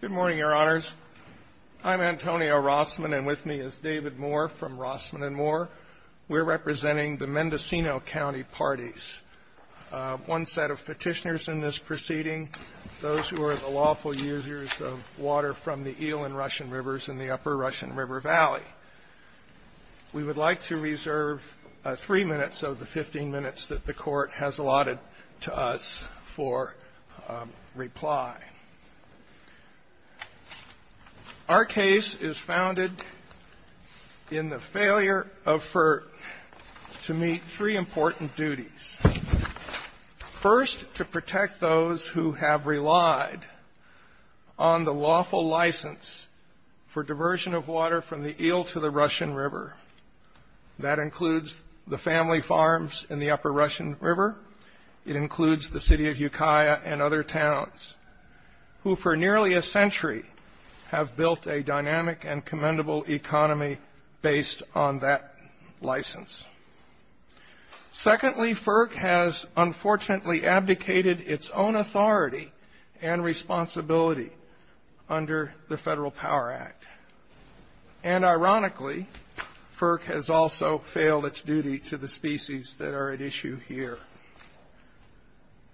Good morning, Your Honors. I'm Antonio Rossman, and with me is David Moore from Rossman & Moore. We're representing the Mendocino County Parties. One set of petitioners in this proceeding, those who are the lawful users of water from the Eel and Russian Rivers in the upper Russian River Valley. We would like to reserve three minutes of the 15 minutes that the Court has allotted to us for reply. Our case is founded in the failure of FERC to meet three important duties. First, to protect those who have relied on the lawful license for diversion of water from the Eel to the Russian River. That includes the family farms in the upper Russian River. It includes the city of Ukiah and other towns, who for nearly a century have built a dynamic and commendable economy based on that license. Secondly, FERC has unfortunately abdicated its own authority and responsibility under the Federal Power Act. And ironically, FERC has also failed its duty to the species that are at issue here.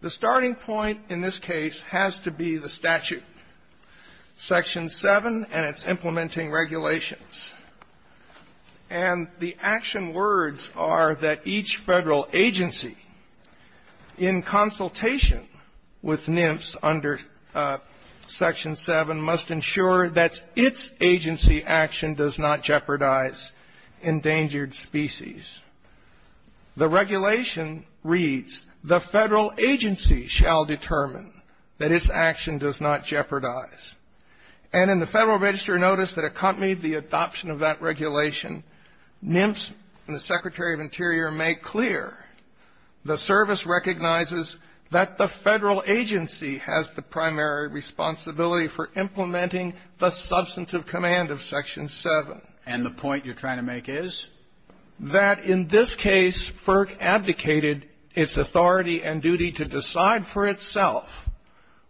The starting point in this case has to be the statute, Section 7 and its implementing regulations. And the action words are that each Federal agency, in consultation with NIMFS under Section 7, must ensure that its agency action does not jeopardize endangered species. The regulation reads, the Federal agency shall determine that its action does not jeopardize. And in the Federal Register notice that accompanied the adoption of that regulation, NIMFS and the Secretary of Interior make clear the service recognizes that the Federal agency has the primary responsibility for implementing the substantive command of Section 7. And the point you're trying to make is? That in this case, FERC abdicated its authority and duty to decide for itself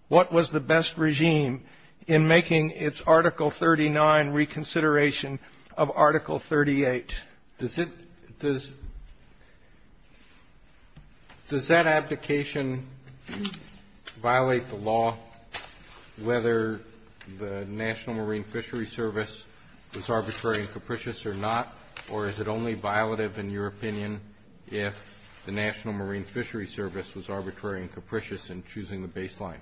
what was the best regime in making its Article 39 reconsideration of Article 38. Kennedy, does that abdication violate the law whether the National Marine Fishery Service was arbitrary and capricious or not? Or is it only violative, in your opinion, if the National Marine Fishery Service was arbitrary and capricious in choosing the baseline?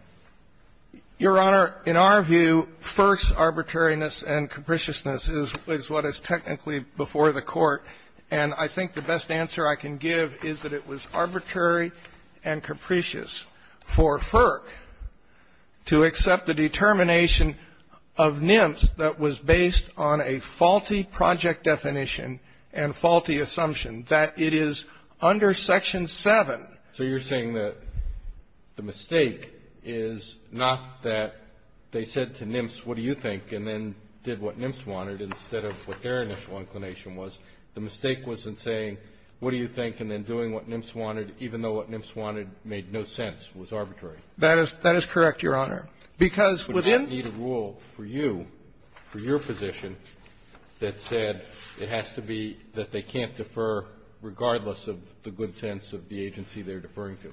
Your Honor, in our view, FERC's arbitrariness and capriciousness is what is technically before the Court, and I think the best answer I can give is that it was arbitrary and capricious for FERC to accept the determination of NIMFS that was based on a faulty project definition and faulty assumption, that it is under Section 7. So you're saying that the mistake is not that they said to NIMFS, what do you think, and then did what NIMFS wanted instead of what their initial inclination was. The mistake was in saying, what do you think, and then doing what NIMFS wanted, even though what NIMFS wanted made no sense, was arbitrary. That is correct, Your Honor. Because within the rule for you, for your position, that said it has to be that they are deferring to.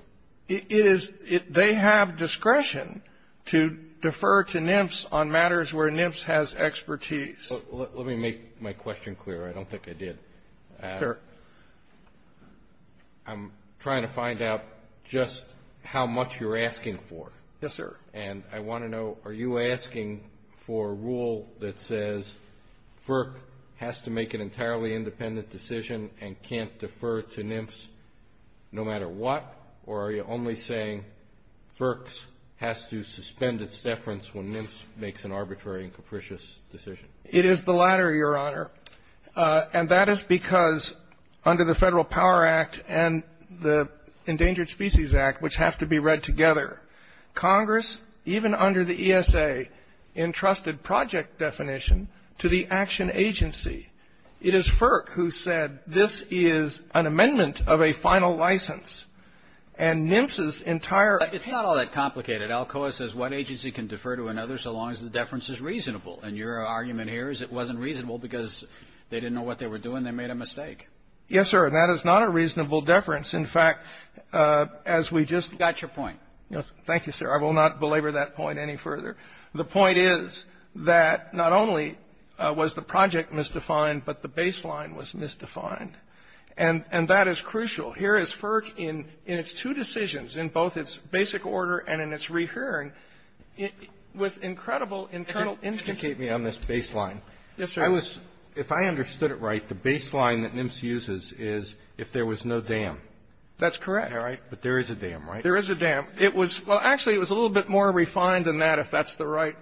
It is. They have discretion to defer to NIMFS on matters where NIMFS has expertise. Let me make my question clear. I don't think I did. Sure. I'm trying to find out just how much you're asking for. Yes, sir. And I want to know, are you asking for a rule that says FERC has to make an entirely independent decision and can't defer to NIMFS no matter what, or are you only saying FERC's has to suspend its deference when NIMFS makes an arbitrary and capricious decision? It is the latter, Your Honor, and that is because under the Federal Power Act and the Endangered Species Act, which have to be read together, Congress, even under the ESA, entrusted project definition to the action agency. It is FERC who said this is an amendment of a final license. And NIMFS's entire ---- It's not all that complicated. Alcoa says one agency can defer to another so long as the deference is reasonable. And your argument here is it wasn't reasonable because they didn't know what they were doing. They made a mistake. Yes, sir. And that is not a reasonable deference. In fact, as we just ---- You got your point. Thank you, sir. I will not belabor that point any further. The point is that not only was the project misdefined, but the baseline was misdefined. And that is crucial. Here is FERC in its two decisions, in both its basic order and in its rehearing, with incredible internal instances. If you could just indicate me on this baseline. Yes, sir. If I understood it right, the baseline that NIMFS uses is if there was no dam. That's correct. All right. But there is a dam, right? There is a dam. It was ---- Well, actually, it was a little bit more refined than that, if that's the right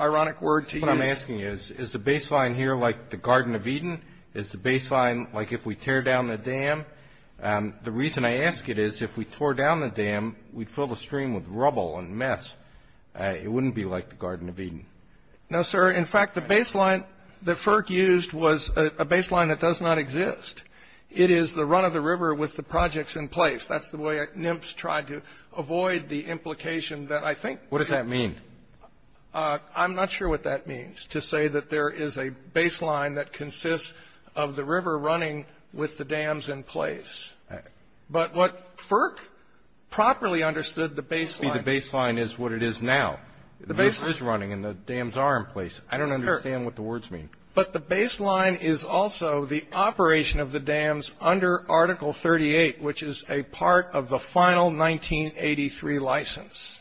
ironic word to use. What I'm asking is, is the baseline here like the Garden of Eden? Is the baseline like if we tear down the dam? The reason I ask it is if we tore down the dam, we'd fill the stream with rubble and mess. It wouldn't be like the Garden of Eden. No, sir. In fact, the baseline that FERC used was a baseline that does not exist. It is the run of the river with the projects in place. That's the way NIMFS tried to avoid the implication that I think ---- What does that mean? I'm not sure what that means, to say that there is a baseline that consists of the river running with the dams in place. But what FERC properly understood the baseline ---- The baseline is what it is now. The baseline is running and the dams are in place. I don't understand what the words mean. But the baseline is also the operation of the dams under Article 38, which is a part of the final 1983 license.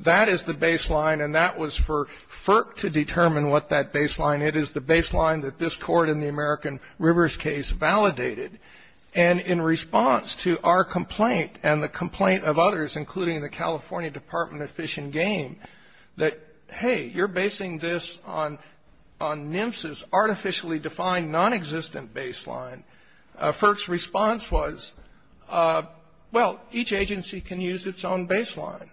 That is the baseline, and that was for FERC to determine what that baseline. It is the baseline that this Court in the American Rivers case validated. And in response to our complaint and the complaint of others, including the California Department of Fish and Game, that, hey, you're basing this on NIMFS's Well, each agency can use its own baseline.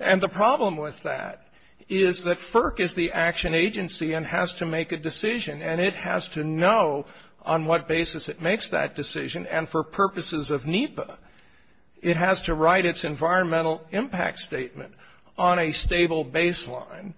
And the problem with that is that FERC is the action agency and has to make a decision. And it has to know on what basis it makes that decision. And for purposes of NEPA, it has to write its environmental impact statement on a stable baseline.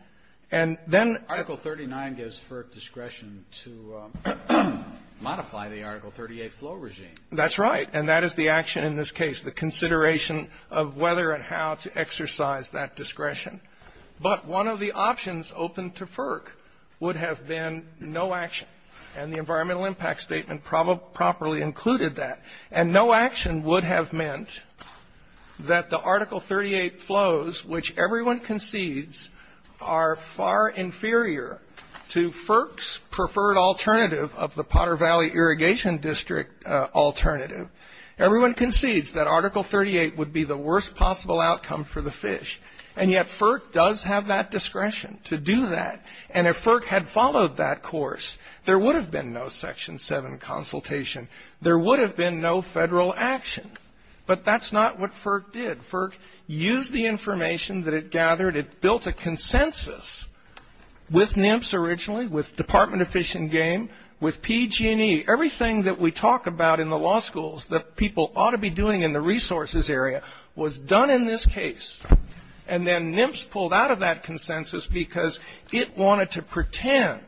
And then ---- Article 39 gives FERC discretion to modify the Article 38 flow regime. That's right. And that is the action in this case, the consideration of whether and how to exercise that discretion. But one of the options open to FERC would have been no action. And the environmental impact statement probably properly included that. And no action would have meant that the Article 38 flows, which everyone concedes, are far inferior to FERC's preferred alternative of the Potter Valley Irrigation District alternative. Everyone concedes that Article 38 would be the worst possible outcome for the fish. And yet, FERC does have that discretion to do that. And if FERC had followed that course, there would have been no Section 7 consultation. There would have been no federal action. But that's not what FERC did. FERC used the information that it gathered. It built a consensus with NIMFS originally, with Department of Fish and Game, with PG&E, everything that we talk about in the law schools that people ought to be doing in the resources area, was done in this case. And then NIMFS pulled out of that consensus because it wanted to pretend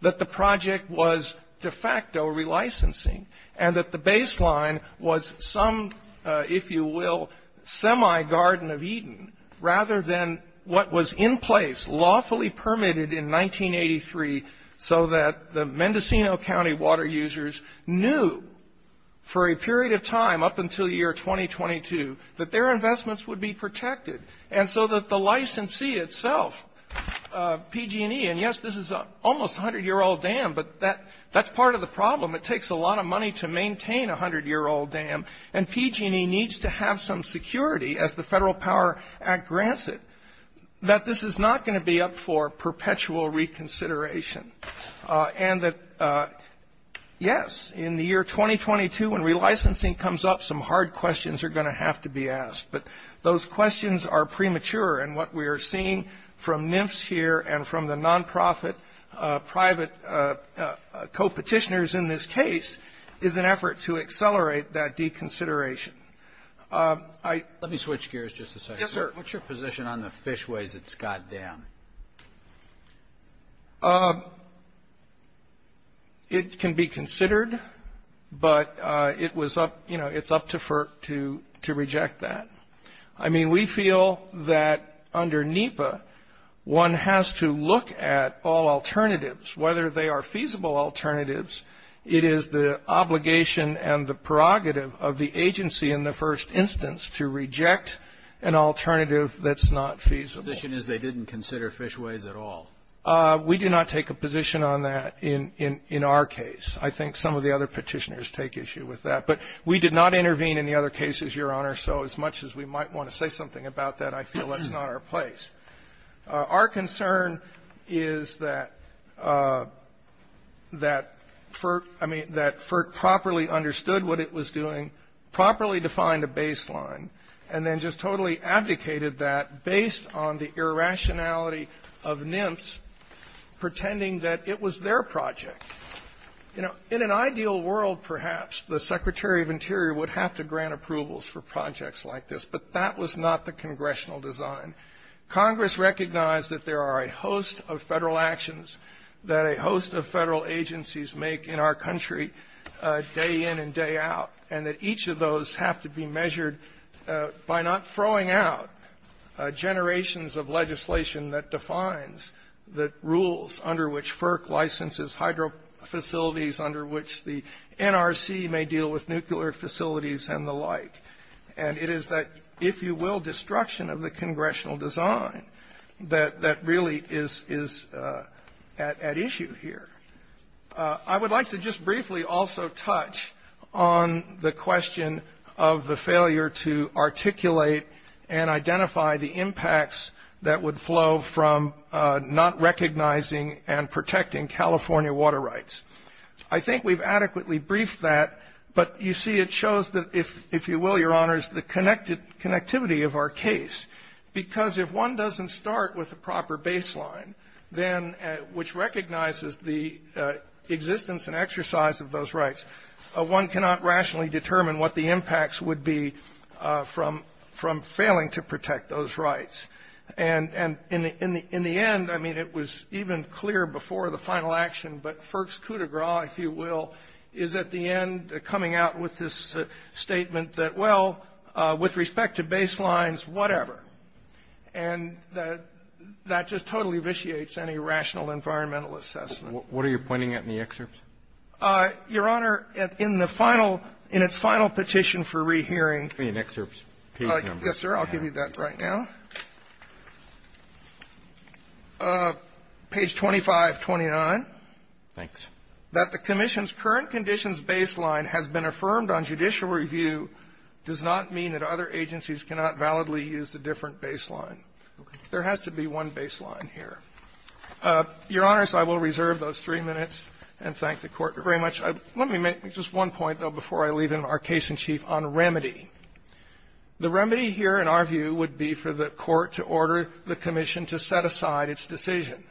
that the project was de facto relicensing and that the baseline was some, if you will, semi-Garden of Eden rather than what was in place, lawfully permitted in 1983 so that the Mendocino County water users knew for a period of time up until year 2022 that their investments would be protected. And so that the licensee itself, PG&E, and yes, this is almost a 100-year-old dam, but that's part of the problem. It takes a lot of money to maintain a 100-year-old dam. And PG&E needs to have some security as the Federal Power Act grants it, that this is not going to be up for perpetual reconsideration. And that, yes, in the year 2022, when relicensing comes up, some hard questions are going to have to be asked. But those questions are premature. And what we are seeing from NIMFS here and from the nonprofit private co-Petitioners in this case is an effort to accelerate that deconsideration. I ---- Roberts. Let me switch gears just a second. Yes, sir. What's your position on the fishways at Scott Dam? It can be considered, but it was up, you know, it's up to FERC to reject that. I mean, we feel that under NEPA, one has to look at all alternatives. Whether they are feasible alternatives, it is the obligation and the prerogative of the agency in the first instance to reject an alternative that's not feasible. The condition is they didn't consider fishways at all. We do not take a position on that in our case. I think some of the other Petitioners take issue with that. But we did not intervene in the other cases, Your Honor. So as much as we might want to say something about that, I feel that's not our place. Our concern is that FERC properly understood what it was doing, properly defined a baseline, and then just totally abdicated that based on the irrationality of NIMS pretending that it was their project. In an ideal world, perhaps, the Secretary of Interior would have to grant approvals for projects like this. But that was not the congressional design. Congress recognized that there are a host of federal actions that a host of federal agencies make in our country day in and day out. And that each of those have to be measured by not throwing out generations of legislation that defines the rules under which FERC licenses hydro facilities under which the NRC may deal with nuclear facilities and the like. And it is that, if you will, destruction of the congressional design that really is at issue here. I would like to just briefly also touch on the question of the failure to articulate and identify the impacts that would flow from not recognizing and protecting California water rights. I think we've adequately briefed that. But you see, it shows that, if you will, Your Honors, the connectivity of our case, because if one doesn't start with a proper baseline, then which recognizes the existence and exercise of those rights, one cannot rationally determine what the impacts would be from failing to protect those rights. And in the end, I mean, it was even clear before the final action, but FERC's coming out with this statement that, well, with respect to baselines, whatever. And that just totally vitiates any rational environmental assessment. What are you pointing at in the excerpt? Your Honor, in the final, in its final petition for rehearing. Give me an excerpt page number. Yes, sir. I'll give you that right now. Page 2529. Thanks. That the Commission's current conditions baseline has been affirmed on judicial review does not mean that other agencies cannot validly use a different baseline. There has to be one baseline here. Your Honors, I will reserve those three minutes and thank the Court very much. Let me make just one point, though, before I leave it in our case in chief, on remedy. The remedy here, in our view, would be for the Court to order the Commission to set aside its decision.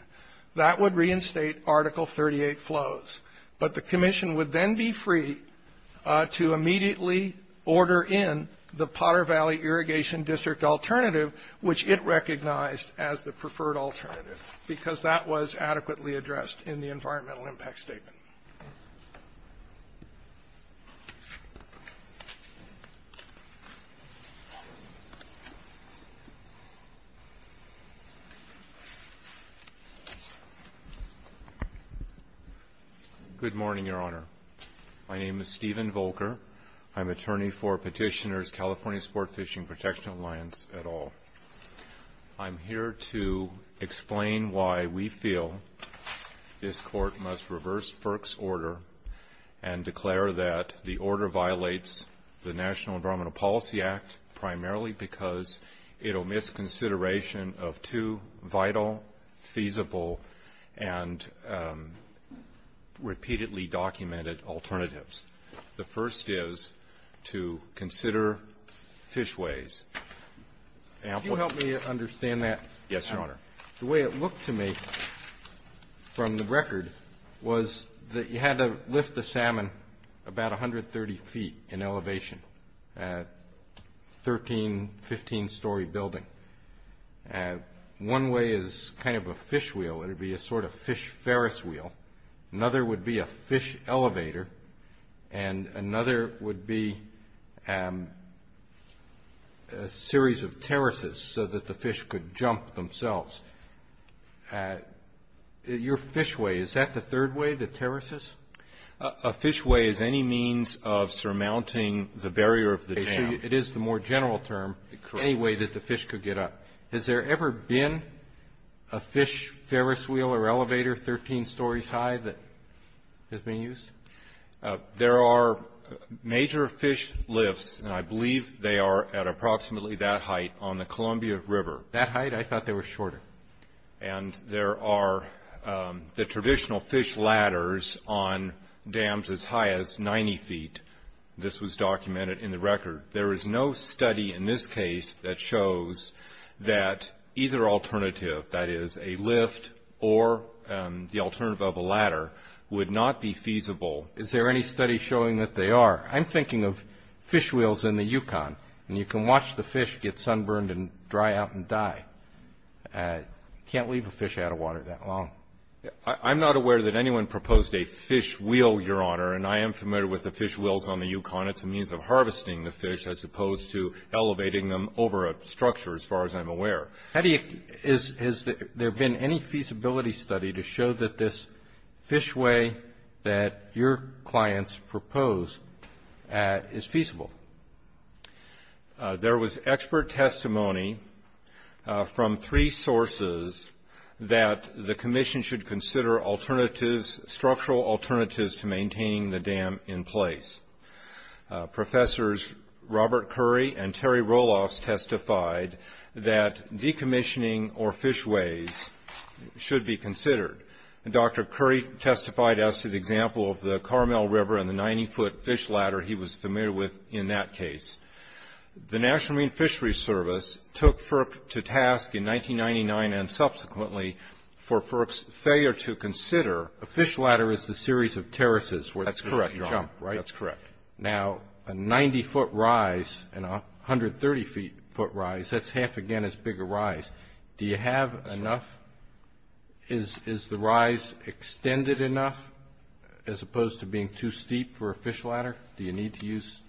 That would reinstate Article 38 flows. But the Commission would then be free to immediately order in the Potter Valley Irrigation District alternative, which it recognized as the preferred alternative. Because that was adequately addressed in the environmental impact statement. Good morning, Your Honor. My name is Stephen Volker. I'm attorney for Petitioner's California Sport Fishing Protection Alliance et al. I'm here to explain why we feel this court must reverse FERC's order and declare that the order violates the National Environmental Policy Act primarily because it omits consideration of two vital, feasible, and repeatedly documented alternatives. The first is to consider fishways. Now, if you help me understand that. Yes, Your Honor. The way it looked to me, from the record, was that you had to lift the salmon about 130 feet in elevation. 13, 15-story building. One way is kind of a fish wheel. It would be a sort of fish ferris wheel. Another would be a fish elevator. And another would be a series of terraces so that the fish could jump themselves. Your fishway, is that the third way, the terraces? It is the more general term, any way that the fish could get up. Has there ever been a fish ferris wheel or elevator 13 stories high that has been used? There are major fish lifts, and I believe they are at approximately that height on the Columbia River. That height? I thought they were shorter. And there are the traditional fish ladders on dams as high as 90 feet. This was documented in the record. There is no study in this case that shows that either alternative, that is a lift or the alternative of a ladder, would not be feasible. Is there any study showing that they are? I'm thinking of fish wheels in the Yukon, and you can watch the fish get sunburned and dry out and die. Can't leave a fish out of water that long. I'm not aware that anyone proposed a fish wheel, Your Honor, and I am familiar with the fish wheels on the Yukon. It's a means of harvesting the fish, as opposed to elevating them over a structure, as far as I'm aware. Have you, has there been any feasibility study to show that this fishway that your clients proposed is feasible? There was expert testimony from three sources that the commission should consider alternatives, structural alternatives, to maintaining the dam in place. Professors Robert Curry and Terry Roloffs testified that decommissioning or fishways should be considered. Dr. Curry testified as to the example of the Carmel River and the 90 foot fish ladder he was familiar with in that case. The National Marine Fishery Service took FERC to task in 1999 and subsequently for FERC's failure to consider a fish ladder as a series of terraces where they could jump, right? That's correct. Now, a 90 foot rise and a 130 feet foot rise, that's half again as big a rise. Do you have enough? Is the rise extended enough, as opposed to being too steep for a fish ladder, do you need to use?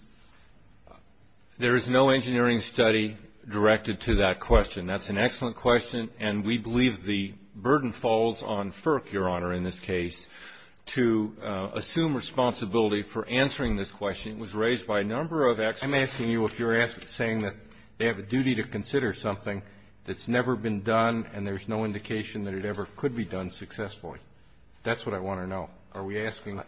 There is no engineering study directed to that question. That's an excellent question, and we believe the burden falls on FERC, Your Honor, in this case, to assume responsibility for answering this question. It was raised by a number of experts. I'm asking you if you're saying that they have a duty to consider something that's never been done and there's no indication that it ever could be done successfully. That's what I want to know. Are we asking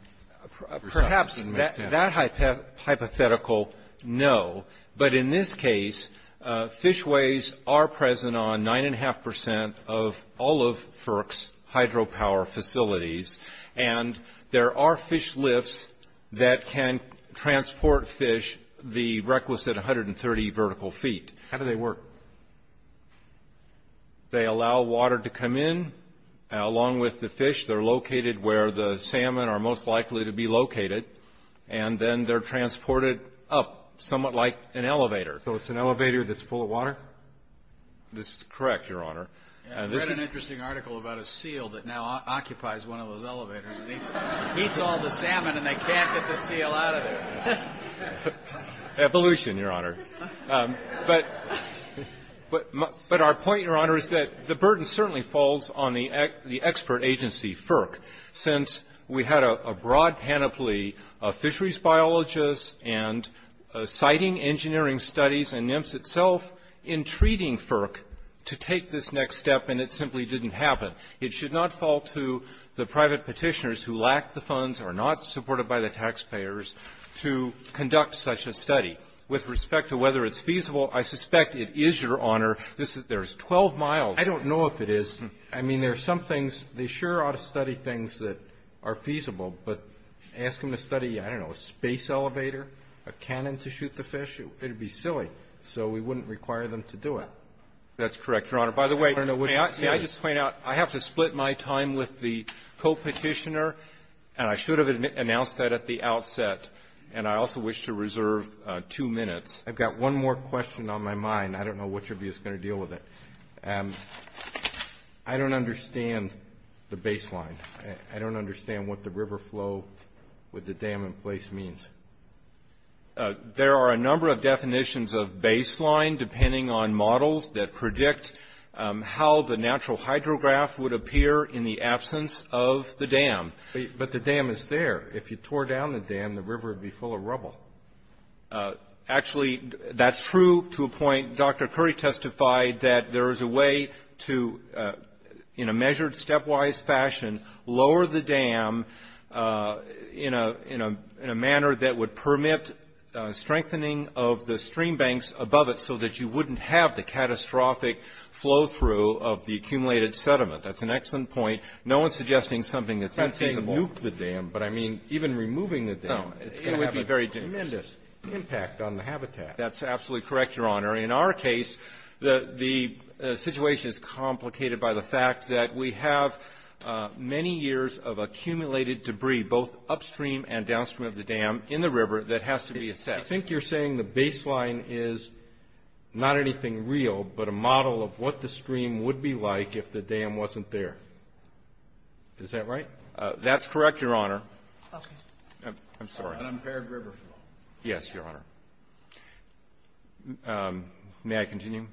for something that doesn't make sense? Perhaps that hypothetical, no. But in this case, fishways are present on 9.5 percent of all of FERC's hydropower facilities, and there are fish lifts that can transport fish the requisite 130 vertical feet. How do they work? They allow water to come in, along with the fish. They're located where the salmon are most likely to be located, and then they're transported up, somewhat like an elevator. So it's an elevator that's full of water? This is correct, Your Honor. I read an interesting article about a seal that now occupies one of those elevators. It eats all the salmon, and they can't get the seal out of there. Evolution, Your Honor. But our point, Your Honor, is that the burden certainly falls on the expert agency, FERC, since we had a broad panoply of fisheries biologists and siting engineering studies, and NMFS itself entreating FERC to take this next step, and it simply didn't happen. It should not fall to the private Petitioners who lack the funds or are not supported by the taxpayers to conduct such a study. With respect to whether it's feasible, I suspect it is, Your Honor. This is 12 miles. I don't know if it is. I mean, there are some things. They sure ought to study things that are feasible, but ask them to study, I don't know, a space elevator, a cannon to shoot the fish? It would be silly, so we wouldn't require them to do it. That's correct, Your Honor. By the way, may I just point out, I have to split my time with the co-Petitioner, and I should have announced that at the outset. And I also wish to reserve two minutes. I've got one more question on my mind. I don't know which of you is going to deal with it. I don't understand the baseline. I don't understand what the river flow with the dam in place means. There are a number of definitions of baseline, depending on models, that predict how the natural hydrograph would appear in the absence of the dam. But the dam is there. If you tore down the dam, the river would be full of rubble. Actually, that's true to a point. Dr. Curry testified that there is a way to, in a measured, stepwise fashion, lower the dam in a manner that would permit strengthening of the stream banks above it so that you wouldn't have the catastrophic flow-through of the accumulated sediment. That's an excellent point. No one is suggesting something that's feasible. I'm not saying nuke the dam, but I mean even removing the dam. No. It's going to have a tremendous impact on the habitat. That's absolutely correct, Your Honor. In our case, the situation is complicated by the fact that we have many years of accumulated debris, both upstream and downstream of the dam, in the river that has to be assessed. I think you're saying the baseline is not anything real, but a model of what the stream would be like if the dam wasn't there. Is that right? That's correct, Your Honor. Okay. I'm sorry. An impaired river flow. Yes, Your Honor. May I continue?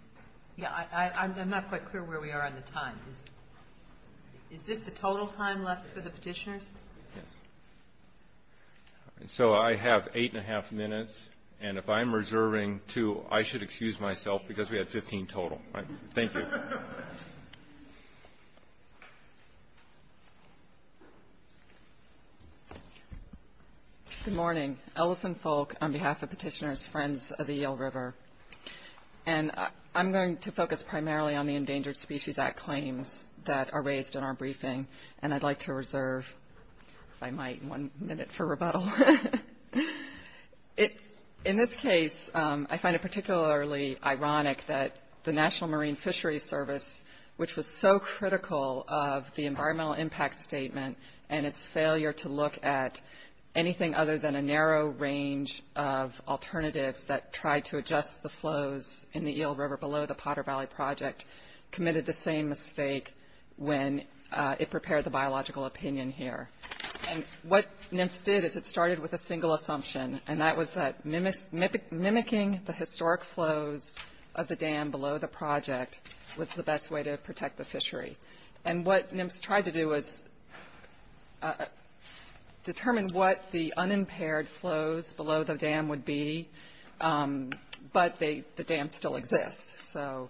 Yes. I'm not quite clear where we are on the time. Is this the total time left for the petitioners? Yes. So I have eight and a half minutes, and if I'm reserving two, I should excuse myself because we had 15 total. Thank you. Good morning. Ellison Folk on behalf of petitioners, Friends of the Eel River. And I'm going to focus primarily on the Endangered Species Act claims that are raised in our briefing, and I'd like to reserve, if I might, one minute for rebuttal. In this case, I find it particularly ironic that the National Marine Fisheries Service, which was so critical of the environmental impact statement and its narrow range of alternatives that tried to adjust the flows in the Eel River below the Potter Valley Project, committed the same mistake when it prepared the biological opinion here. And what NMFS did is it started with a single assumption, and that was that mimicking the historic flows of the dam below the project was the best way to protect the fishery. And what NMFS tried to do was determine what the unimpaired flows below the dam would be, but the dam still exists. So,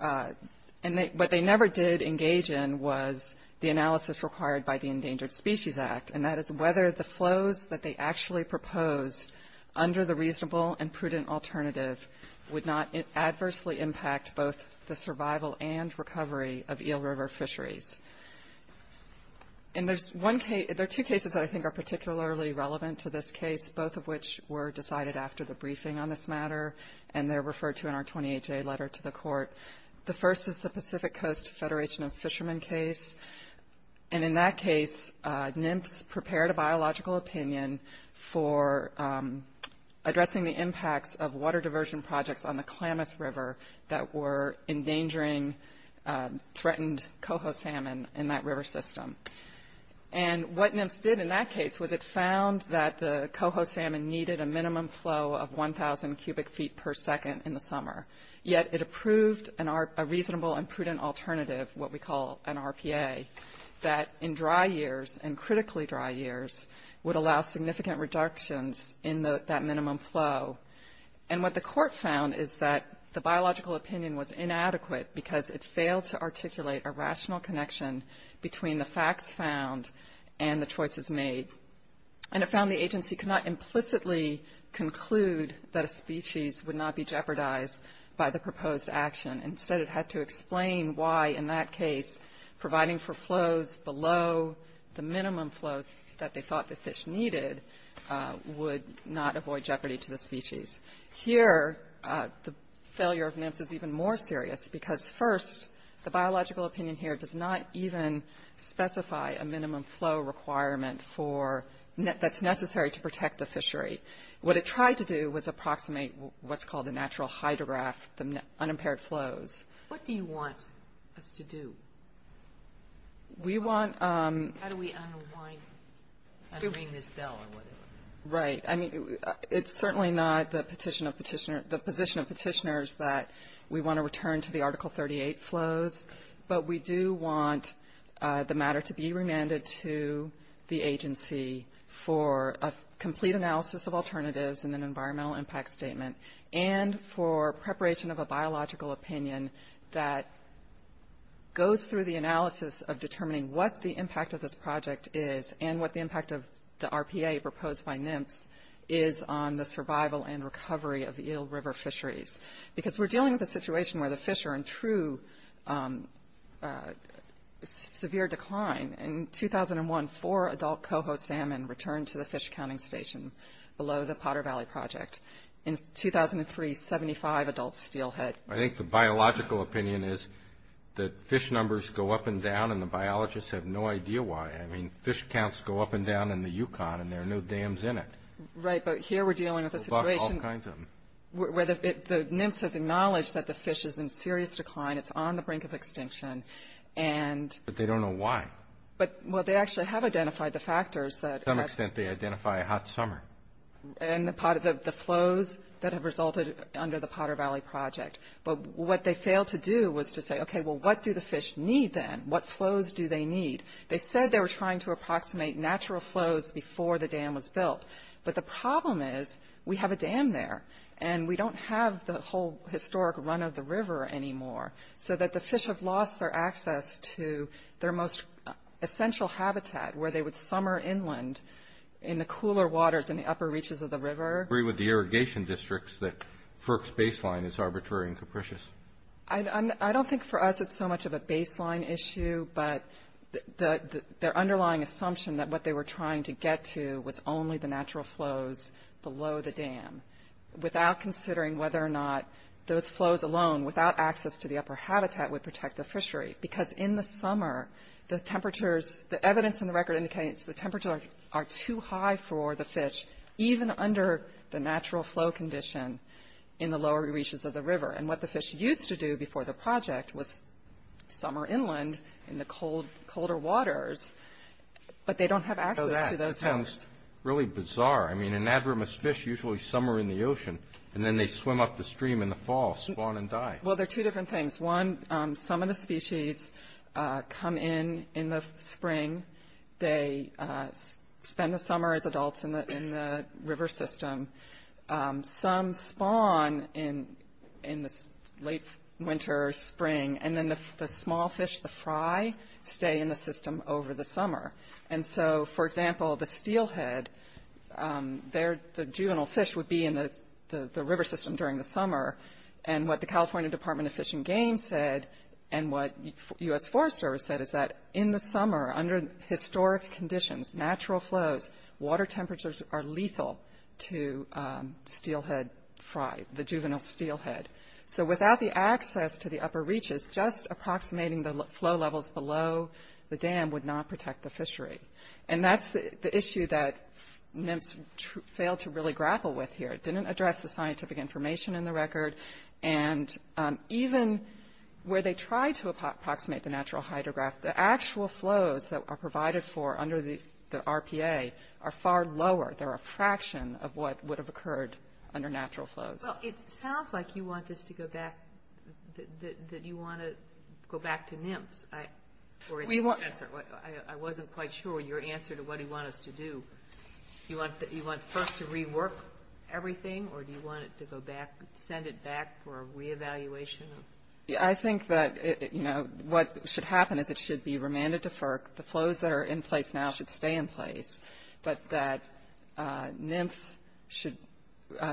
and what they never did engage in was the analysis required by the Endangered Species Act, and that is whether the flows that they actually proposed under the reasonable and prudent alternative would not adversely impact both the survival and recovery of Eel River fisheries. And there are two cases that I think are particularly relevant to this case, both of which were decided after the briefing on this matter, and they're referred to in our 28-day letter to the court. The first is the Pacific Coast Federation of Fishermen case. And in that case, NMFS prepared a biological opinion for addressing the impacts of threatened coho salmon in that river system. And what NMFS did in that case was it found that the coho salmon needed a minimum flow of 1,000 cubic feet per second in the summer, yet it approved a reasonable and prudent alternative, what we call an RPA, that in dry years and critically dry years would allow significant reductions in that minimum flow. And what the court found is that the biological opinion was inadequate because it failed to articulate a rational connection between the facts found and the choices made. And it found the agency could not implicitly conclude that a species would not be jeopardized by the proposed action. Instead, it had to explain why, in that case, providing for flows below the minimum flows that they thought the fish needed would not avoid jeopardy to the species. Here, the failure of NMFS is even more serious because, first, the biological opinion here does not even specify a minimum flow requirement that's necessary to protect the fishery. What it tried to do was approximate what's called the natural hydrograph, the unimpaired flows. What do you want us to do? We want – How do we unwind – unring this bell or whatever? Right. I mean, it's certainly not the petition of petitioners – the position of petitioners that we want to return to the Article 38 flows, but we do want the matter to be remanded to the agency for a complete analysis of alternatives and an environmental impact statement, and for preparation of a biological opinion that goes through the analysis of determining what the impact of this is on the survival and recovery of the Eel River fisheries. Because we're dealing with a situation where the fish are in true severe decline. In 2001, four adult coho salmon returned to the fish counting station below the Potter Valley Project. In 2003, 75 adults steelhead. I think the biological opinion is that fish numbers go up and down, and the biologists have no idea why. I mean, fish counts go up and down in the Yukon, and there are no dams in it. Right, but here we're dealing with a situation where the NIMS has acknowledged that the fish is in serious decline. It's on the brink of extinction, and – But they don't know why. But – well, they actually have identified the factors that – To some extent, they identify a hot summer. And the flows that have resulted under the Potter Valley Project. But what they failed to do was to say, okay, well, what do the fish need then? What flows do they need? They said they were trying to approximate natural flows before the dam was But the problem is, we have a dam there, and we don't have the whole historic run of the river anymore, so that the fish have lost their access to their most essential habitat, where they would summer inland in the cooler waters in the upper reaches of the river. Do you agree with the irrigation districts that FERC's baseline is arbitrary and capricious? I don't think for us it's so much of a baseline issue, but their underlying assumption that what they were trying to get to was only the natural flows below the dam, without considering whether or not those flows alone, without access to the upper habitat, would protect the fishery. Because in the summer, the temperatures – the evidence in the record indicates the temperatures are too high for the fish, even under the natural flow condition in the lower reaches of the river. And what the fish used to do before the project was summer inland in the colder waters, but they don't have access to those waters. That sounds really bizarre. I mean, anadromous fish usually summer in the ocean, and then they swim up the stream in the fall, spawn and die. Well, they're two different things. One, some of the species come in in the spring. They spend the summer as adults in the river system. Some spawn in the late winter or spring, and then the small fish, the fry, stay in the system over the summer. And so, for example, the steelhead, the juvenile fish would be in the river system during the summer. And what the California Department of Fish and Game said, and what U.S. Forest Service said, is that in the summer, under historic conditions, natural flows, water temperatures are lethal to steelhead fry, the juvenile steelhead. So without the access to the upper reaches, just approximating the flow levels below the dam would not protect the fishery. And that's the issue that NIMS failed to really grapple with here. It didn't address the scientific information in the record. And even where they tried to approximate the natural hydrograph, the actual flows that are provided for under the RPA are far lower. They're a fraction of what would have occurred under natural flows. Well, it sounds like you want this to go back, that you want to go back to NIMS. I wasn't quite sure your answer to what you want us to do. You want first to rework everything, or do you want it to go back, send it back for a reevaluation? I think that, you know, what should happen is it should be remanded to FERC. The flows that are in place now should stay in place. But that NIMS should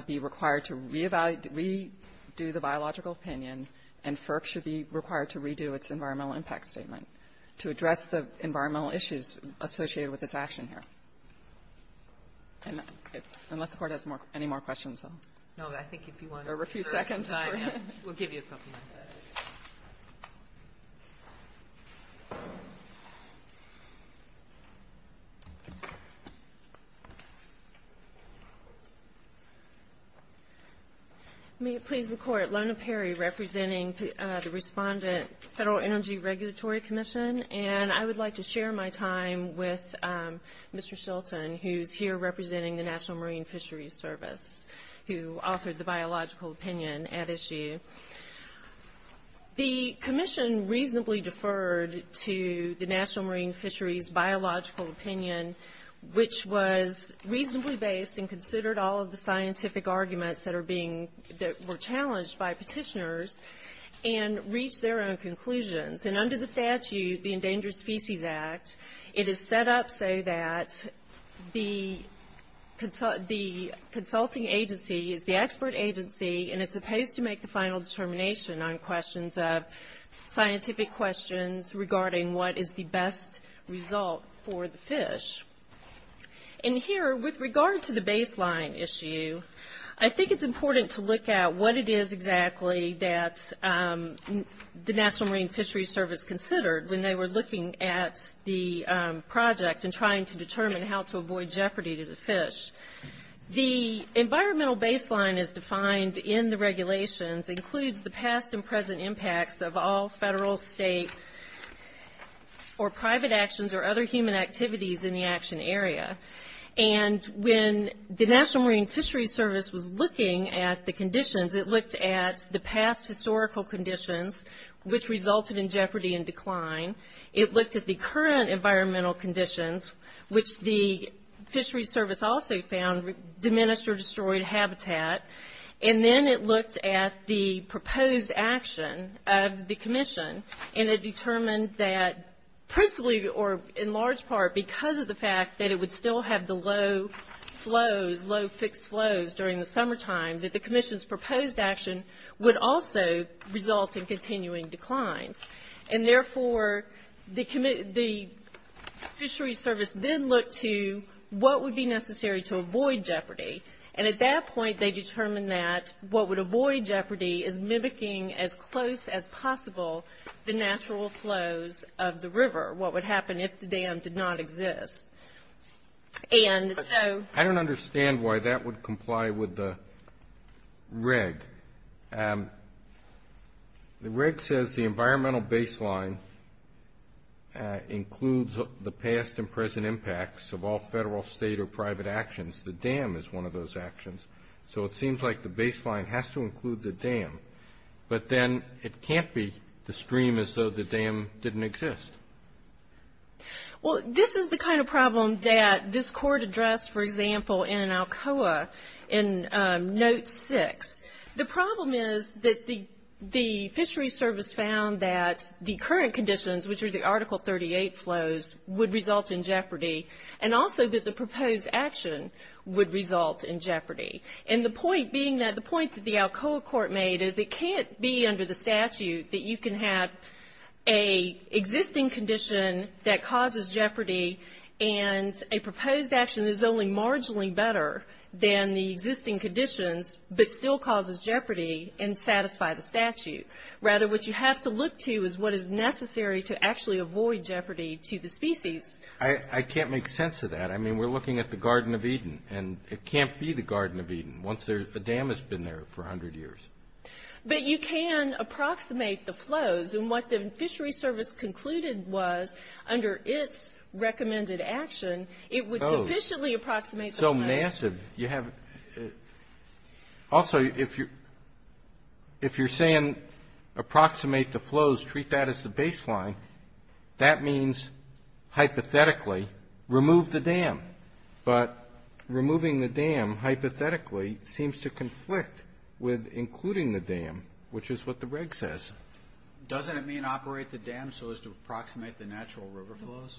be required to re-evaluate, redo the biological opinion. And FERC should be required to redo its environmental impact statement to address the environmental issues associated with its action here. And unless the Court has any more questions. No, I think if you want to reserve some time, we'll give you a couple of minutes. Thank you, Mr. Attorney. May it please the Court, Lona Perry representing the respondent, Federal Energy Regulatory Commission. And I would like to share my time with Mr. Shelton, who's here representing the National Marine Fisheries Service, who authored the biological opinion at issue. The commission reasonably deferred to the National Marine Fisheries biological opinion, which was reasonably based and considered all of the scientific arguments that were challenged by petitioners and reached their own conclusions. And under the statute, the Endangered Species Act, it is set up so that the consulting agency is the expert agency and is supposed to make the final determination on questions of scientific questions regarding what is the best result for the fish. And here, with regard to the baseline issue, I think it's important to look at what it is exactly that the National Marine Fisheries Service considered when they were looking at the project and trying to determine how to avoid jeopardy to the fish. The environmental baseline as defined in the regulations includes the past and present impacts of all federal, state, or private actions or other human activities in the action area. And when the National Marine Fisheries Service was looking at the conditions, it looked at the past historical conditions, which resulted in jeopardy and decline. It looked at the current environmental conditions, which the fisheries service also found diminished or destroyed habitat. And then it looked at the proposed action of the commission, and it determined that principally or in large part because of the fact that it would still have the low flows, low fixed flows during the summertime, that the commission's proposed action would also result in continuing declines. And therefore, the fisheries service then looked to what would be necessary to avoid jeopardy. And at that point, they determined that what would avoid jeopardy is mimicking as close as possible the natural flows of the river, what would happen if the dam did not exist. And so ‑‑ I don't understand why that would comply with the reg. The reg says the environmental baseline includes the past and present impacts of all federal, state, or private actions. The dam is one of those actions. So it seems like the baseline has to include the dam. But then it can't be the stream as though the dam didn't exist. Well, this is the kind of problem that this court addressed, for example, in Alcoa in Note 6. The problem is that the fisheries service found that the current conditions, which are the Article 38 flows, would result in jeopardy, and also that the proposed action would result in jeopardy. And the point being that the point that the Alcoa court made is it can't be under the statute that you can have an existing condition that causes jeopardy and a proposed action that is only marginally better than the existing conditions but still causes jeopardy and satisfy the statute. Rather, what you have to look to is what is necessary to actually avoid jeopardy to the species. I can't make sense of that. I mean, we're looking at the Garden of Eden, and it can't be the Garden of Eden once the dam has been there for 100 years. But you can approximate the flows, and what the fisheries service concluded was under its recommended action, it would sufficiently approximate the flows. So massive. Also, if you're saying approximate the flows, treat that as the baseline, that means hypothetically remove the dam. But removing the dam hypothetically seems to conflict with including the dam, which is what the reg says. Doesn't it mean operate the dam so as to approximate the natural river flows?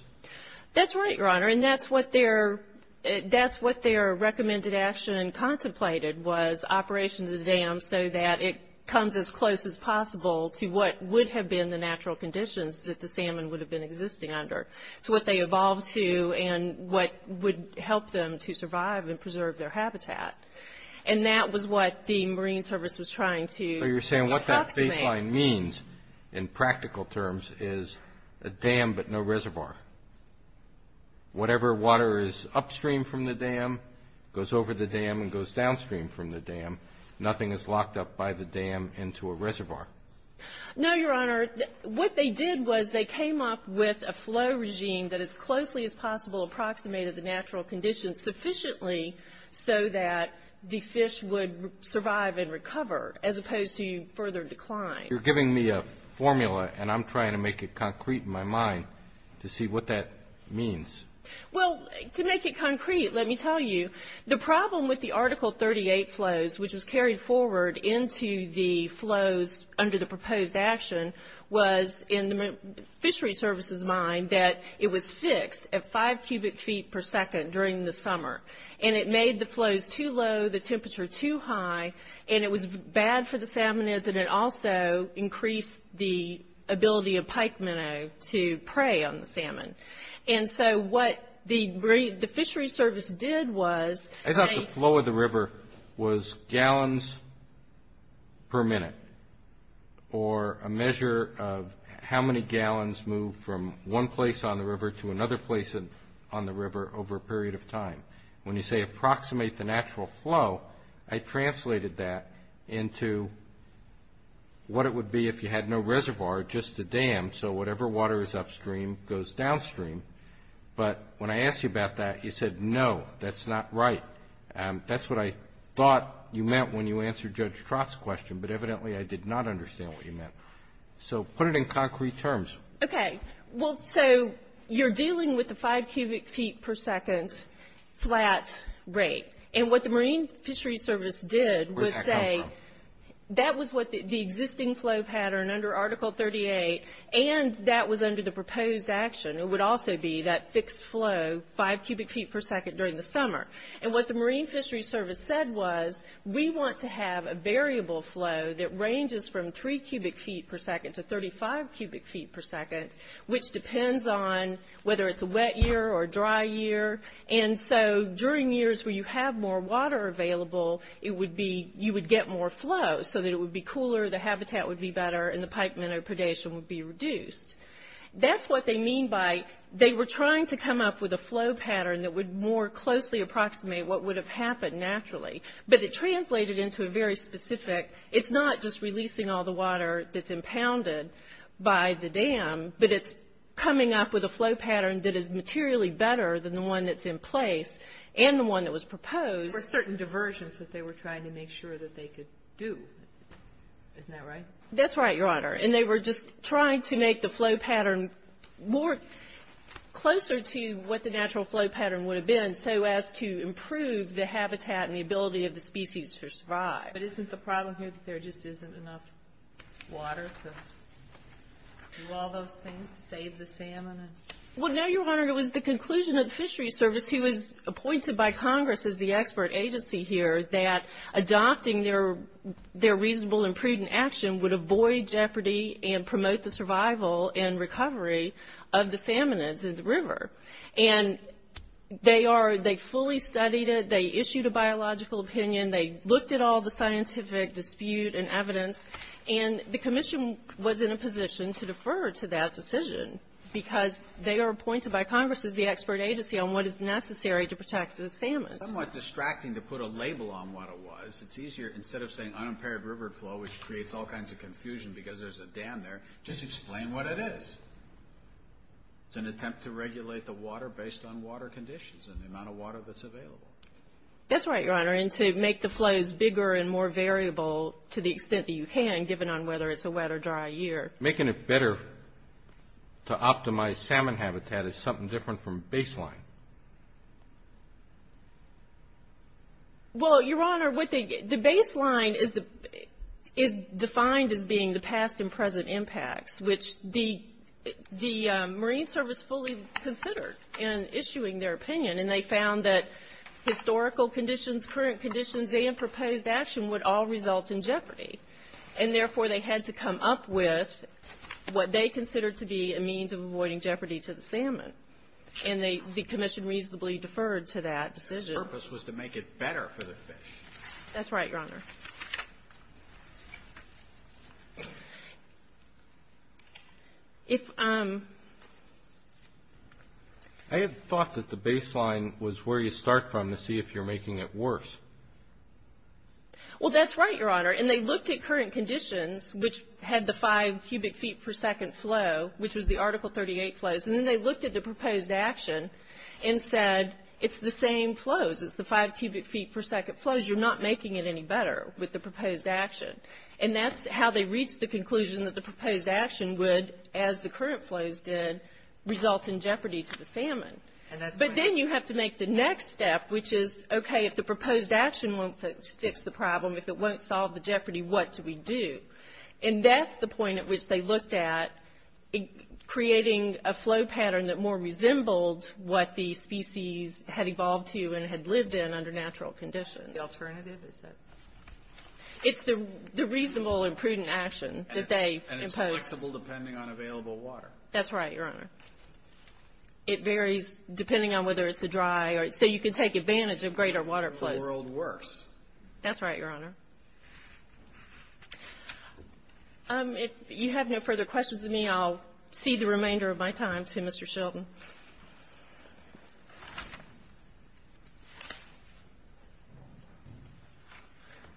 That's right, Your Honor, and that's what their recommended action contemplated was operation of the dam so that it comes as close as possible to what would have been the natural conditions that the salmon would have been existing under. So what they evolved to and what would help them to survive and preserve their habitat. And that was what the marine service was trying to approximate. So you're saying what that baseline means in practical terms is a dam but no reservoir. Whatever water is upstream from the dam goes over the dam and goes downstream from the dam. Nothing is locked up by the dam into a reservoir. No, Your Honor. What they did was they came up with a flow regime that as closely as possible approximated the natural conditions sufficiently so that the fish would survive and recover as opposed to further decline. You're giving me a formula, and I'm trying to make it concrete in my mind to see what that means. Well, to make it concrete, let me tell you, the problem with the Article 38 flows, which was carried forward into the flows under the proposed action, was in the fishery service's mind that it was fixed at five cubic feet per second during the summer. And it made the flows too low, the temperature too high, and it was bad for the salmonids, and it also increased the ability of pike minnow to prey on the salmon. And so what the fishery service did was they – gallons per minute, or a measure of how many gallons move from one place on the river to another place on the river over a period of time. When you say approximate the natural flow, I translated that into what it would be if you had no reservoir, just a dam, so whatever water is upstream goes downstream. But when I asked you about that, you said, no, that's not right. That's what I thought you meant when you answered Judge Trott's question, but evidently I did not understand what you meant. So put it in concrete terms. Okay. Well, so you're dealing with the five cubic feet per second flat rate. And what the Marine Fishery Service did was say that was what the existing flow pattern under Article 38 and that was under the proposed action, it would also be that fixed flow, five cubic feet per second during the summer. And what the Marine Fishery Service said was we want to have a variable flow that ranges from three cubic feet per second to 35 cubic feet per second, which depends on whether it's a wet year or a dry year. And so during years where you have more water available, you would get more flow so that it would be cooler, the habitat would be better, and the pike minnow predation would be reduced. That's what they mean by they were trying to come up with a flow pattern that would more closely approximate what would have happened naturally. But it translated into a very specific, it's not just releasing all the water that's impounded by the dam, but it's coming up with a flow pattern that is materially better than the one that's in place and the one that was proposed. For certain diversions that they were trying to make sure that they could do. Isn't that right? That's right, Your Honor. And they were just trying to make the flow pattern more, closer to what the natural flow pattern would have been, so as to improve the habitat and the ability of the species to survive. But isn't the problem here that there just isn't enough water to do all those things, save the salmon? Well, no, Your Honor. It was the conclusion of the Fishery Service, who was appointed by Congress as the expert agency here, that adopting their reasonable and prudent action would avoid jeopardy and promote the survival and recovery of the salmonids in the river. And they fully studied it. They issued a biological opinion. They looked at all the scientific dispute and evidence. And the commission was in a position to defer to that decision, because they are appointed by Congress as the expert agency on what is necessary to protect the salmon. It's somewhat distracting to put a label on what it was. It's easier, instead of saying unimpaired river flow, which creates all kinds of confusion because there's a dam there, just explain what it is. It's an attempt to regulate the water based on water conditions and the amount of water that's available. That's right, Your Honor. And to make the flows bigger and more variable to the extent that you can, given on whether it's a wet or dry year. Making it better to optimize salmon habitat is something different from baseline. Well, Your Honor, the baseline is defined as being the past and present impacts, which the Marine Service fully considered in issuing their opinion. And they found that historical conditions, current conditions, and proposed action would all result in jeopardy. And therefore, they had to come up with what they considered to be a means of avoiding jeopardy to the salmon. And the commission reasonably deferred to that decision. Their purpose was to make it better for the fish. That's right, Your Honor. I had thought that the baseline was where you start from to see if you're making it worse. Well, that's right, Your Honor. And they looked at current conditions, which had the 5 cubic feet per second flow, which was the Article 38 flows. And then they looked at the proposed action and said, it's the same flows. It's the 5 cubic feet per second flows. You're not making it any better with the proposed action. And that's how they reached the conclusion that the proposed action would, as the current flows did, result in jeopardy to the salmon. But then you have to make the next step, which is, okay, if the proposed action won't fix the problem, if it won't solve the jeopardy, what do we do? And that's the point at which they looked at creating a flow pattern that more resembled what the species had evolved to and had lived in under natural conditions. The alternative is that. It's the reasonable and prudent action that they imposed. And it's flexible depending on available water. That's right, Your Honor. It varies depending on whether it's a dry or so you can take advantage of greater water flows. The world works. That's right, Your Honor. If you have no further questions of me, I'll cede the remainder of my time to Mr. Shilton.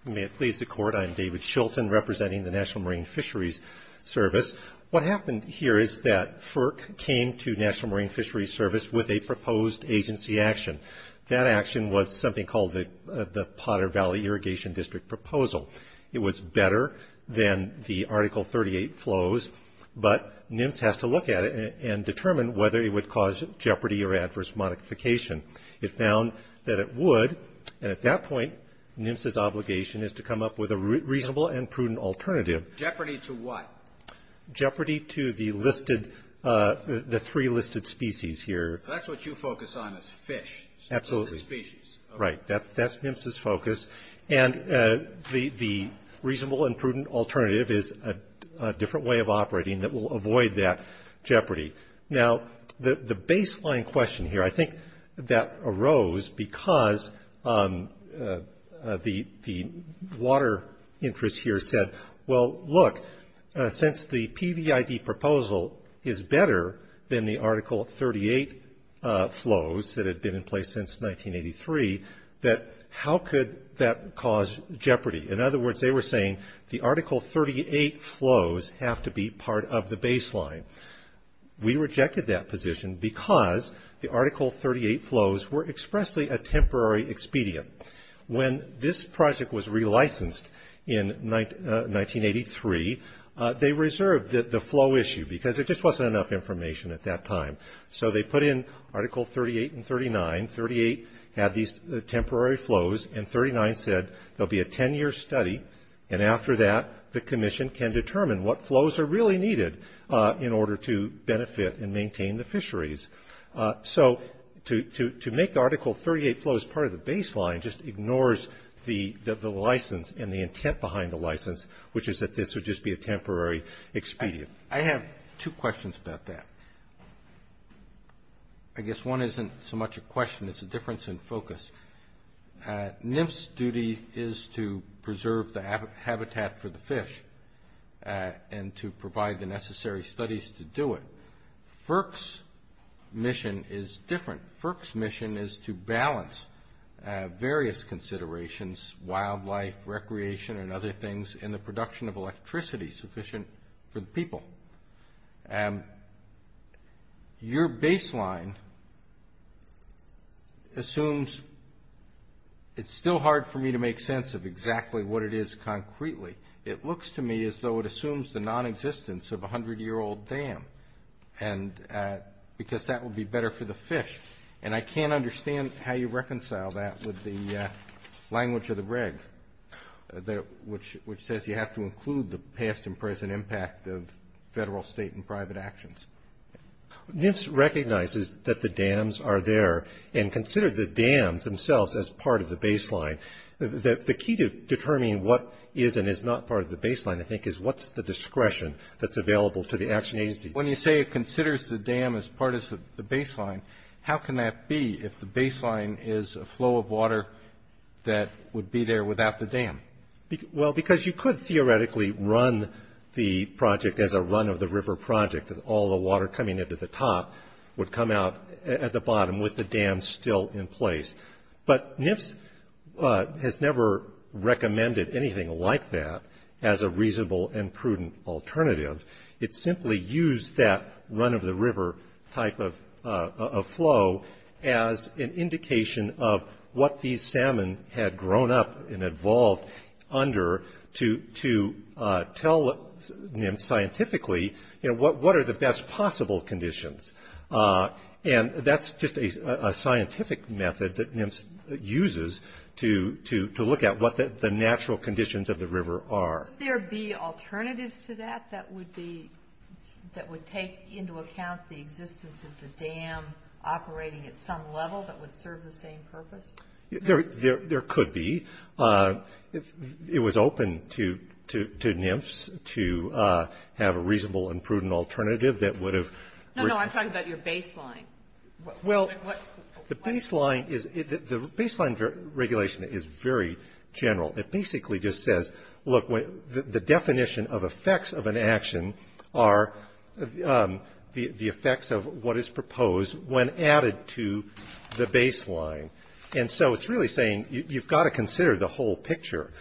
May it please the Court. I am David Shilton representing the National Marine Fisheries Service. What happened here is that FERC came to National Marine Fisheries Service with a proposed agency action. That action was something called the Potter Valley Irrigation District Proposal. It was better than the Article 38 flows, but NMFS has to look at it and determine whether it would cause jeopardy or adverse modification. It found that it would. And at that point, NMFS's obligation is to come up with a reasonable and prudent alternative. Jeopardy to what? Jeopardy to the listed, the three listed species here. That's what you focus on is fish. Absolutely. Species. Right. That's NMFS's focus. And the reasonable and prudent alternative is a different way of operating that will avoid that jeopardy. Now, the baseline question here, I think that arose because the water interest here said, well, look, since the PVID proposal is better than the Article 38 flows that had been in place since 1983, that how could that cause jeopardy? In other words, they were saying the Article 38 flows have to be part of the baseline. We rejected that position because the Article 38 flows were expressly a temporary expedient. When this project was relicensed in 1983, they reserved the flow issue, because there just wasn't enough information at that time. So they put in Article 38 and 39. 38 had these temporary flows, and 39 said there will be a ten-year study, and after that the commission can determine what flows are really needed in order to benefit and maintain the fisheries. So to make Article 38 flows part of the baseline just ignores the license and the intent behind the license, which is that this would just be a temporary expedient. I have two questions about that. I guess one isn't so much a question. It's a difference in focus. NIF's duty is to preserve the habitat for the fish and to provide the necessary studies to do it. FERC's mission is different. FERC's mission is to balance various considerations, wildlife, recreation, and other things in the production of electricity sufficient for the people. And your baseline assumes it's still hard for me to make sense of exactly what it is concretely. It looks to me as though it assumes the non-existence of a 100-year-old dam, because that would be better for the fish. And I can't understand how you reconcile that with the language of the reg, which says you have to include the past and present impact of federal, state, and private actions. NIF recognizes that the dams are there and considers the dams themselves as part of the baseline. The key to determining what is and is not part of the baseline, I think, is what's the discretion that's available to the action agency. When you say it considers the dam as part of the baseline, how can that be if the baseline is a flow of water that would be there without the dam? Well, because you could theoretically run the project as a run-of-the-river project, and all the water coming into the top would come out at the bottom with the dam still in place. But NIF has never recommended anything like that as a reasonable and prudent alternative. It simply used that run-of-the-river type of flow as an indication of what these salmon had grown up and evolved under to tell NIF scientifically, you know, what are the best possible conditions. And that's just a scientific method that NIF uses to look at what the natural conditions of the river are. Would there be alternatives to that that would be that would take into account the existence of the dam operating at some level that would serve the same purpose? There could be. It was open to NIFs to have a reasonable and prudent alternative that would have. No, no, I'm talking about your baseline. Well, the baseline regulation is very general. It basically just says, look, the definition of effects of an action are the effects of what is proposed when added to the baseline. And so it's really saying you've got to consider the whole picture.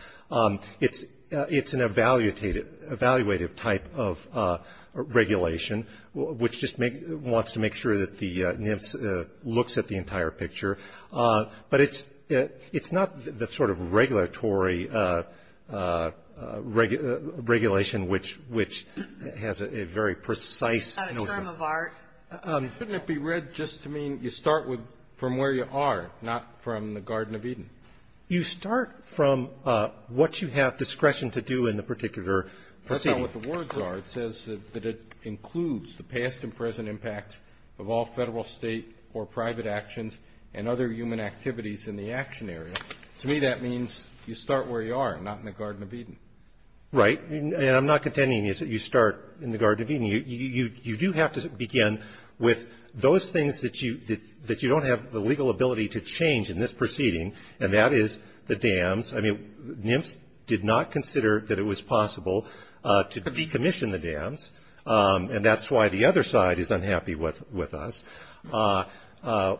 It's an evaluative type of regulation, which just wants to make sure that the NIF looks at the entire picture. But it's not the sort of regulatory regulation which has a very precise notion. It's not a term of art. Shouldn't it be read just to mean you start from where you are, not from the Garden of Eden? You start from what you have discretion to do in the particular proceeding. That's not what the words are. It says that it includes the past and present impacts of all Federal, State, or private actions and other human activities in the action area. To me, that means you start where you are, not in the Garden of Eden. Right. And I'm not contending that you start in the Garden of Eden. You do have to begin with those things that you don't have the legal ability to change in this proceeding, and that is the dams. I mean, NIFs did not consider that it was possible to decommission the dams, and that's why the other side is unhappy with us. NIFs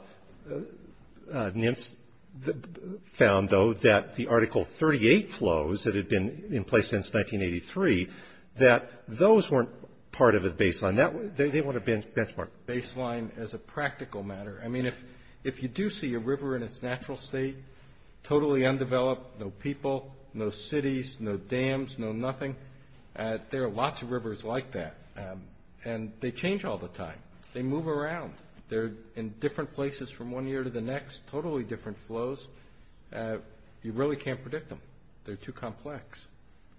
found, though, that the Article 38 flows that had been in place since 1983, that those weren't part of a baseline. They weren't a benchmark. Baseline as a practical matter. I mean, if you do see a river in its natural state, totally undeveloped, no people, no cities, no dams, no nothing, there are lots of rivers like that. And they change all the time. They move around. They're in different places from one year to the next, totally different flows. You really can't predict them. They're too complex.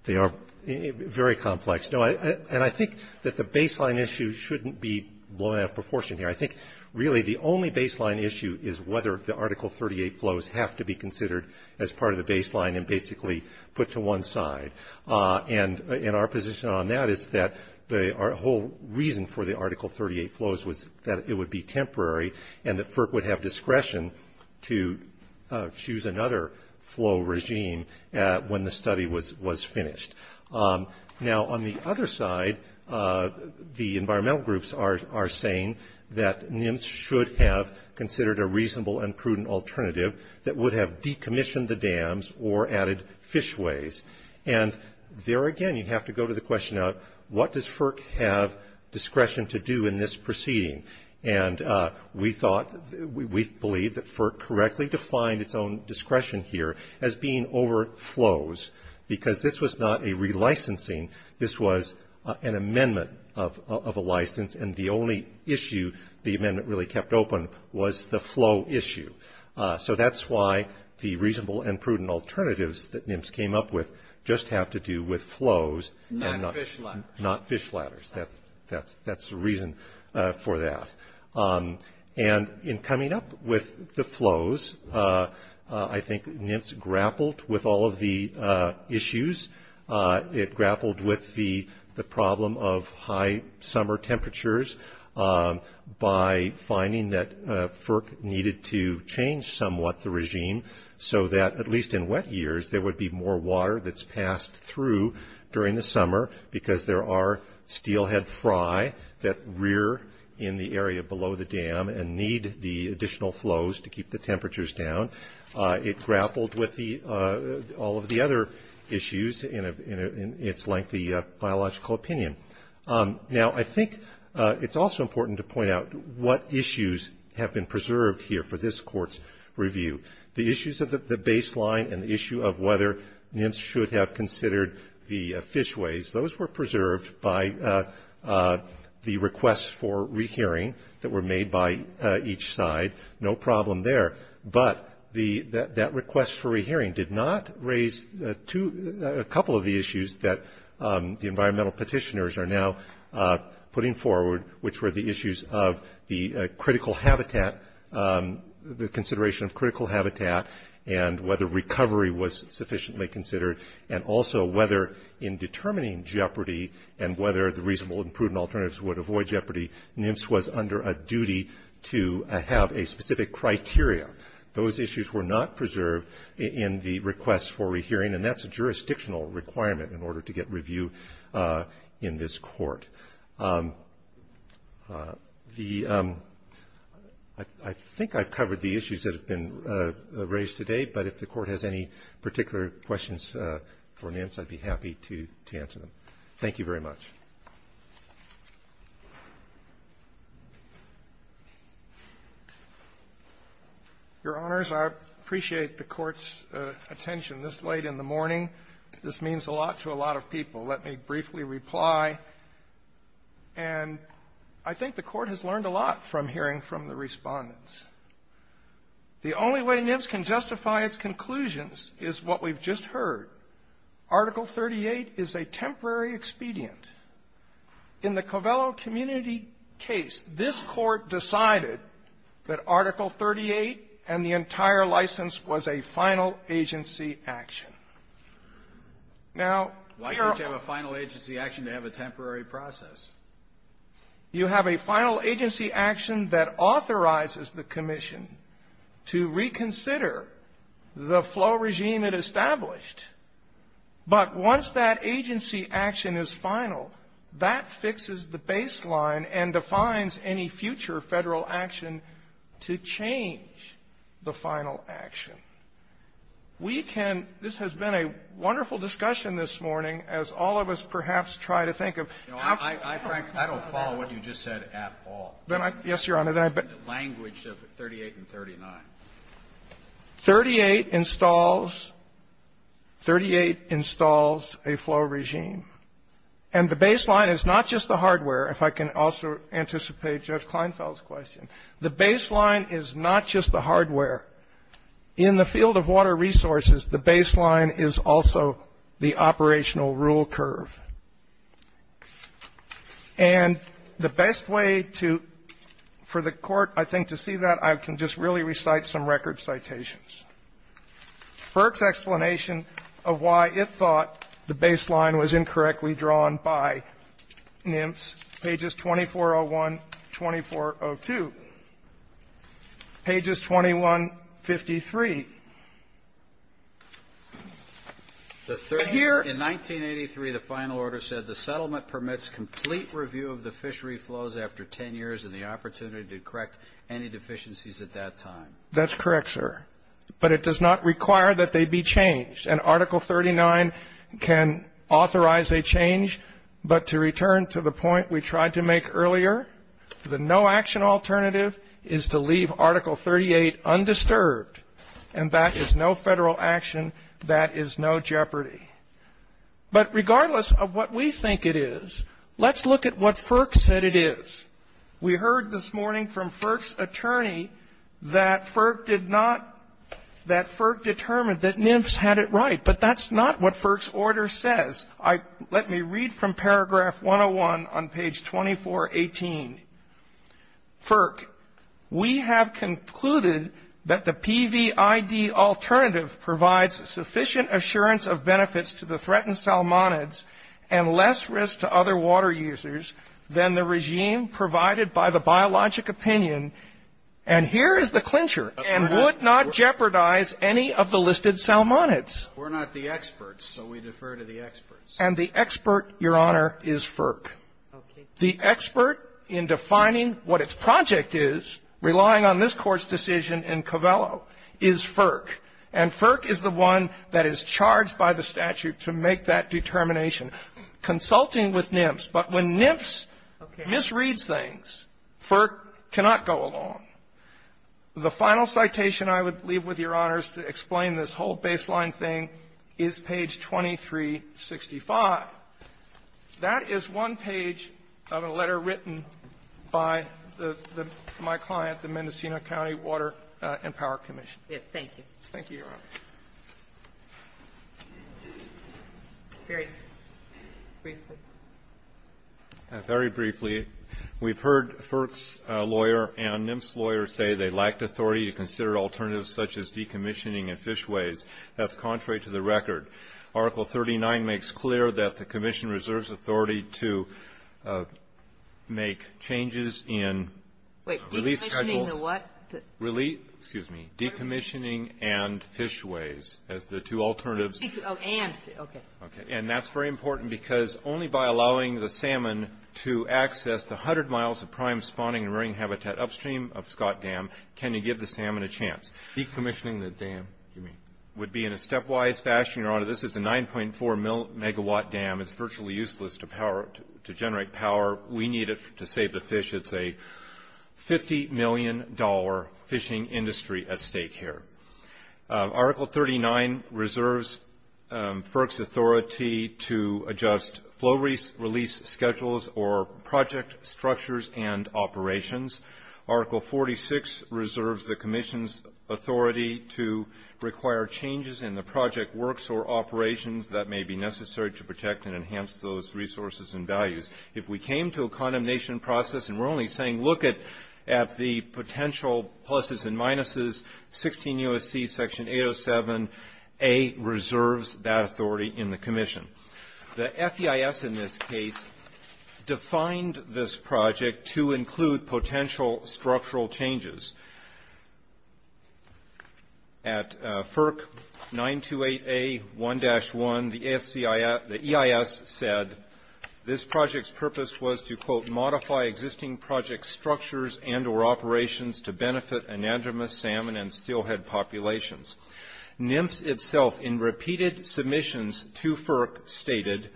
They are very complex. And I think that the baseline issue shouldn't be blown out of proportion here. I think really the only baseline issue is whether the Article 38 flows have to be considered as part of the baseline and basically put to one side. And our position on that is that the whole reason for the Article 38 flows was that it would be temporary and that FERC would have discretion to choose another flow regime when the study was finished. Now, on the other side, the environmental groups are saying that NIMS should have considered a reasonable and prudent alternative that would have decommissioned the dams or added fishways. And there again you have to go to the question of what does FERC have discretion to do in this proceeding. And we thought, we believe that FERC correctly defined its own discretion here as being over flows because this was not a relicensing. This was an amendment of a license. And the only issue the amendment really kept open was the flow issue. So that's why the reasonable and prudent alternatives that NIMS came up with just have to do with flows and not fish ladders. That's the reason for that. And in coming up with the flows, I think NIMS grappled with all of the issues. It grappled with the problem of high summer temperatures by finding that FERC needed to change somewhat the regime so that, at least in wet years, there would be more water that's passed through during the summer because there are steelhead fry that rear in the area below the dam and need the additional flows to keep the temperatures down. It grappled with all of the other issues in its lengthy biological opinion. Now, I think it's also important to point out what issues have been preserved here for this Court's review. The issues of the baseline and the issue of whether NIMS should have considered the fishways, those were preserved by the requests for rehearing that were made by each side. No problem there. But that request for rehearing did not raise a couple of the issues that the environmental petitioners are now putting forward, which were the issues of the critical habitat, the consideration of critical habitat and whether recovery was sufficiently considered, and also whether in determining jeopardy and whether the reasonable and prudent alternatives would avoid jeopardy, NIMS was under a duty to have a specific criteria. Those issues were not preserved in the requests for rehearing, and that's a jurisdictional requirement in order to get review in this Court. The ‑‑ I think I've covered the issues that have been raised today, but if the Court has any particular questions for NIMS, I'd be happy to answer them. Thank you very much. Your Honors, I appreciate the Court's attention this late in the morning. This means a lot to a lot of people. Let me briefly reply. And I think the Court has learned a lot from hearing from the Respondents. The only way NIMS can justify its conclusions is what we've just heard. Article 38 is a temporary expedient. In the Covello community case, this Court decided that Article 38 and the entire license was a final agency action. Now, here are ‑‑ Why do you have a final agency action to have a temporary process? You have a final agency action that authorizes the commission to reconsider the flow regime it established. But once that agency action is final, that fixes the baseline and defines any future Federal action to change the final action. We can ‑‑ this has been a wonderful discussion this morning, as all of us perhaps try to think of. I don't follow what you just said at all. Yes, Your Honor. The language of 38 and 39. 38 installs ‑‑ 38 installs a flow regime. And the baseline is not just the hardware, if I can also anticipate Judge Kleinfeld's question. The baseline is not just the hardware. In the field of water resources, the baseline is also the operational rule curve. And the best way to ‑‑ for the Court, I think, to see that, I can just really recite some record citations. Burke's explanation of why it thought the baseline was incorrectly drawn by NIMPS, pages 2401, 2402. Pages 2153. In 1983, the final order said the settlement permits complete review of the fishery flows after 10 years and the opportunity to correct any deficiencies at that time. That's correct, sir. But it does not require that they be changed. And Article 39 can authorize a change. But to return to the point we tried to make earlier, the no-action alternative is to leave Article 38 undisturbed. And that is no Federal action. That is no jeopardy. But regardless of what we think it is, let's look at what FERC said it is. We heard this morning from FERC's attorney that FERC did not ‑‑ that FERC determined that NIMPS had it right. But that's not what FERC's order says. Let me read from paragraph 101 on page 2418. FERC, we have concluded that the PVID alternative provides sufficient assurance of benefits to the threatened salmonids and less risk to other water users than the regime provided by the biologic opinion. And here is the clincher. And would not jeopardize any of the listed salmonids. We're not the experts, so we defer to the experts. And the expert, Your Honor, is FERC. Okay. The expert in defining what its project is, relying on this Court's decision in Covello, is FERC. And FERC is the one that is charged by the statute to make that determination. Consulting with NIMPS, but when NIMPS misreads things, FERC cannot go along. The final citation I would leave with Your Honors to explain this whole baseline thing is page 2365. That is one page of a letter written by the my client, the Mendocino County Water and Power Commission. Yes. Thank you. Thank you, Your Honor. Very briefly. Very briefly. We've heard FERC's lawyer and NIMPS lawyers say they lacked authority to consider alternatives such as decommissioning and fishways. That's contrary to the record. Article 39 makes clear that the commission reserves authority to make changes in release schedules. Wait. Decommissioning the what? Excuse me. Decommissioning and fishways as the two alternatives. Oh, and. Okay. And that's very important because only by allowing the salmon to access the hundred miles of prime spawning and rearing habitat upstream of Scott Dam can you give the salmon a chance. Decommissioning the dam. Excuse me. Would be in a stepwise fashion, Your Honor. This is a 9.4 megawatt dam. It's virtually useless to generate power. We need it to save the fish. It's a $50 million fishing industry at stake here. Article 39 reserves FERC's authority to adjust flow release schedules or project structures and operations. Article 46 reserves the commission's authority to require changes in the project works or operations that may be necessary to protect and enhance those resources and values. If we came to a condemnation process and we're only saying look at the potential pluses and minuses, 16 U.S.C. Section 807A reserves that authority in the commission. The FEIS in this case defined this project to include potential structural changes. At FERC 928A1-1, the EIS said this project's purpose was to, quote, modify existing project structures and or operations to benefit anadromous salmon and steelhead populations. NMFS itself in repeated submissions to FERC stated,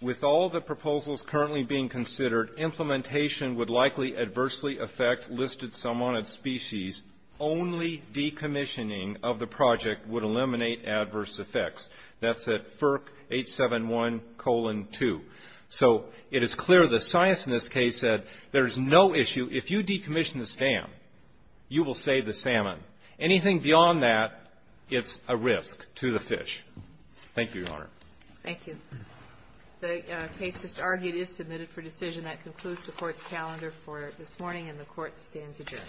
with all the proposals currently being considered, implementation would likely adversely affect listed salmon of species. Only decommissioning of the project would eliminate adverse effects. That's at FERC 871-2. So it is clear the science in this case said there's no issue. If you decommission this dam, you will save the salmon. Anything beyond that, it's a risk to the fish. Thank you, Your Honor. Thank you. The case just argued is submitted for decision. That concludes the Court's calendar for this morning, and the Court stands adjourned.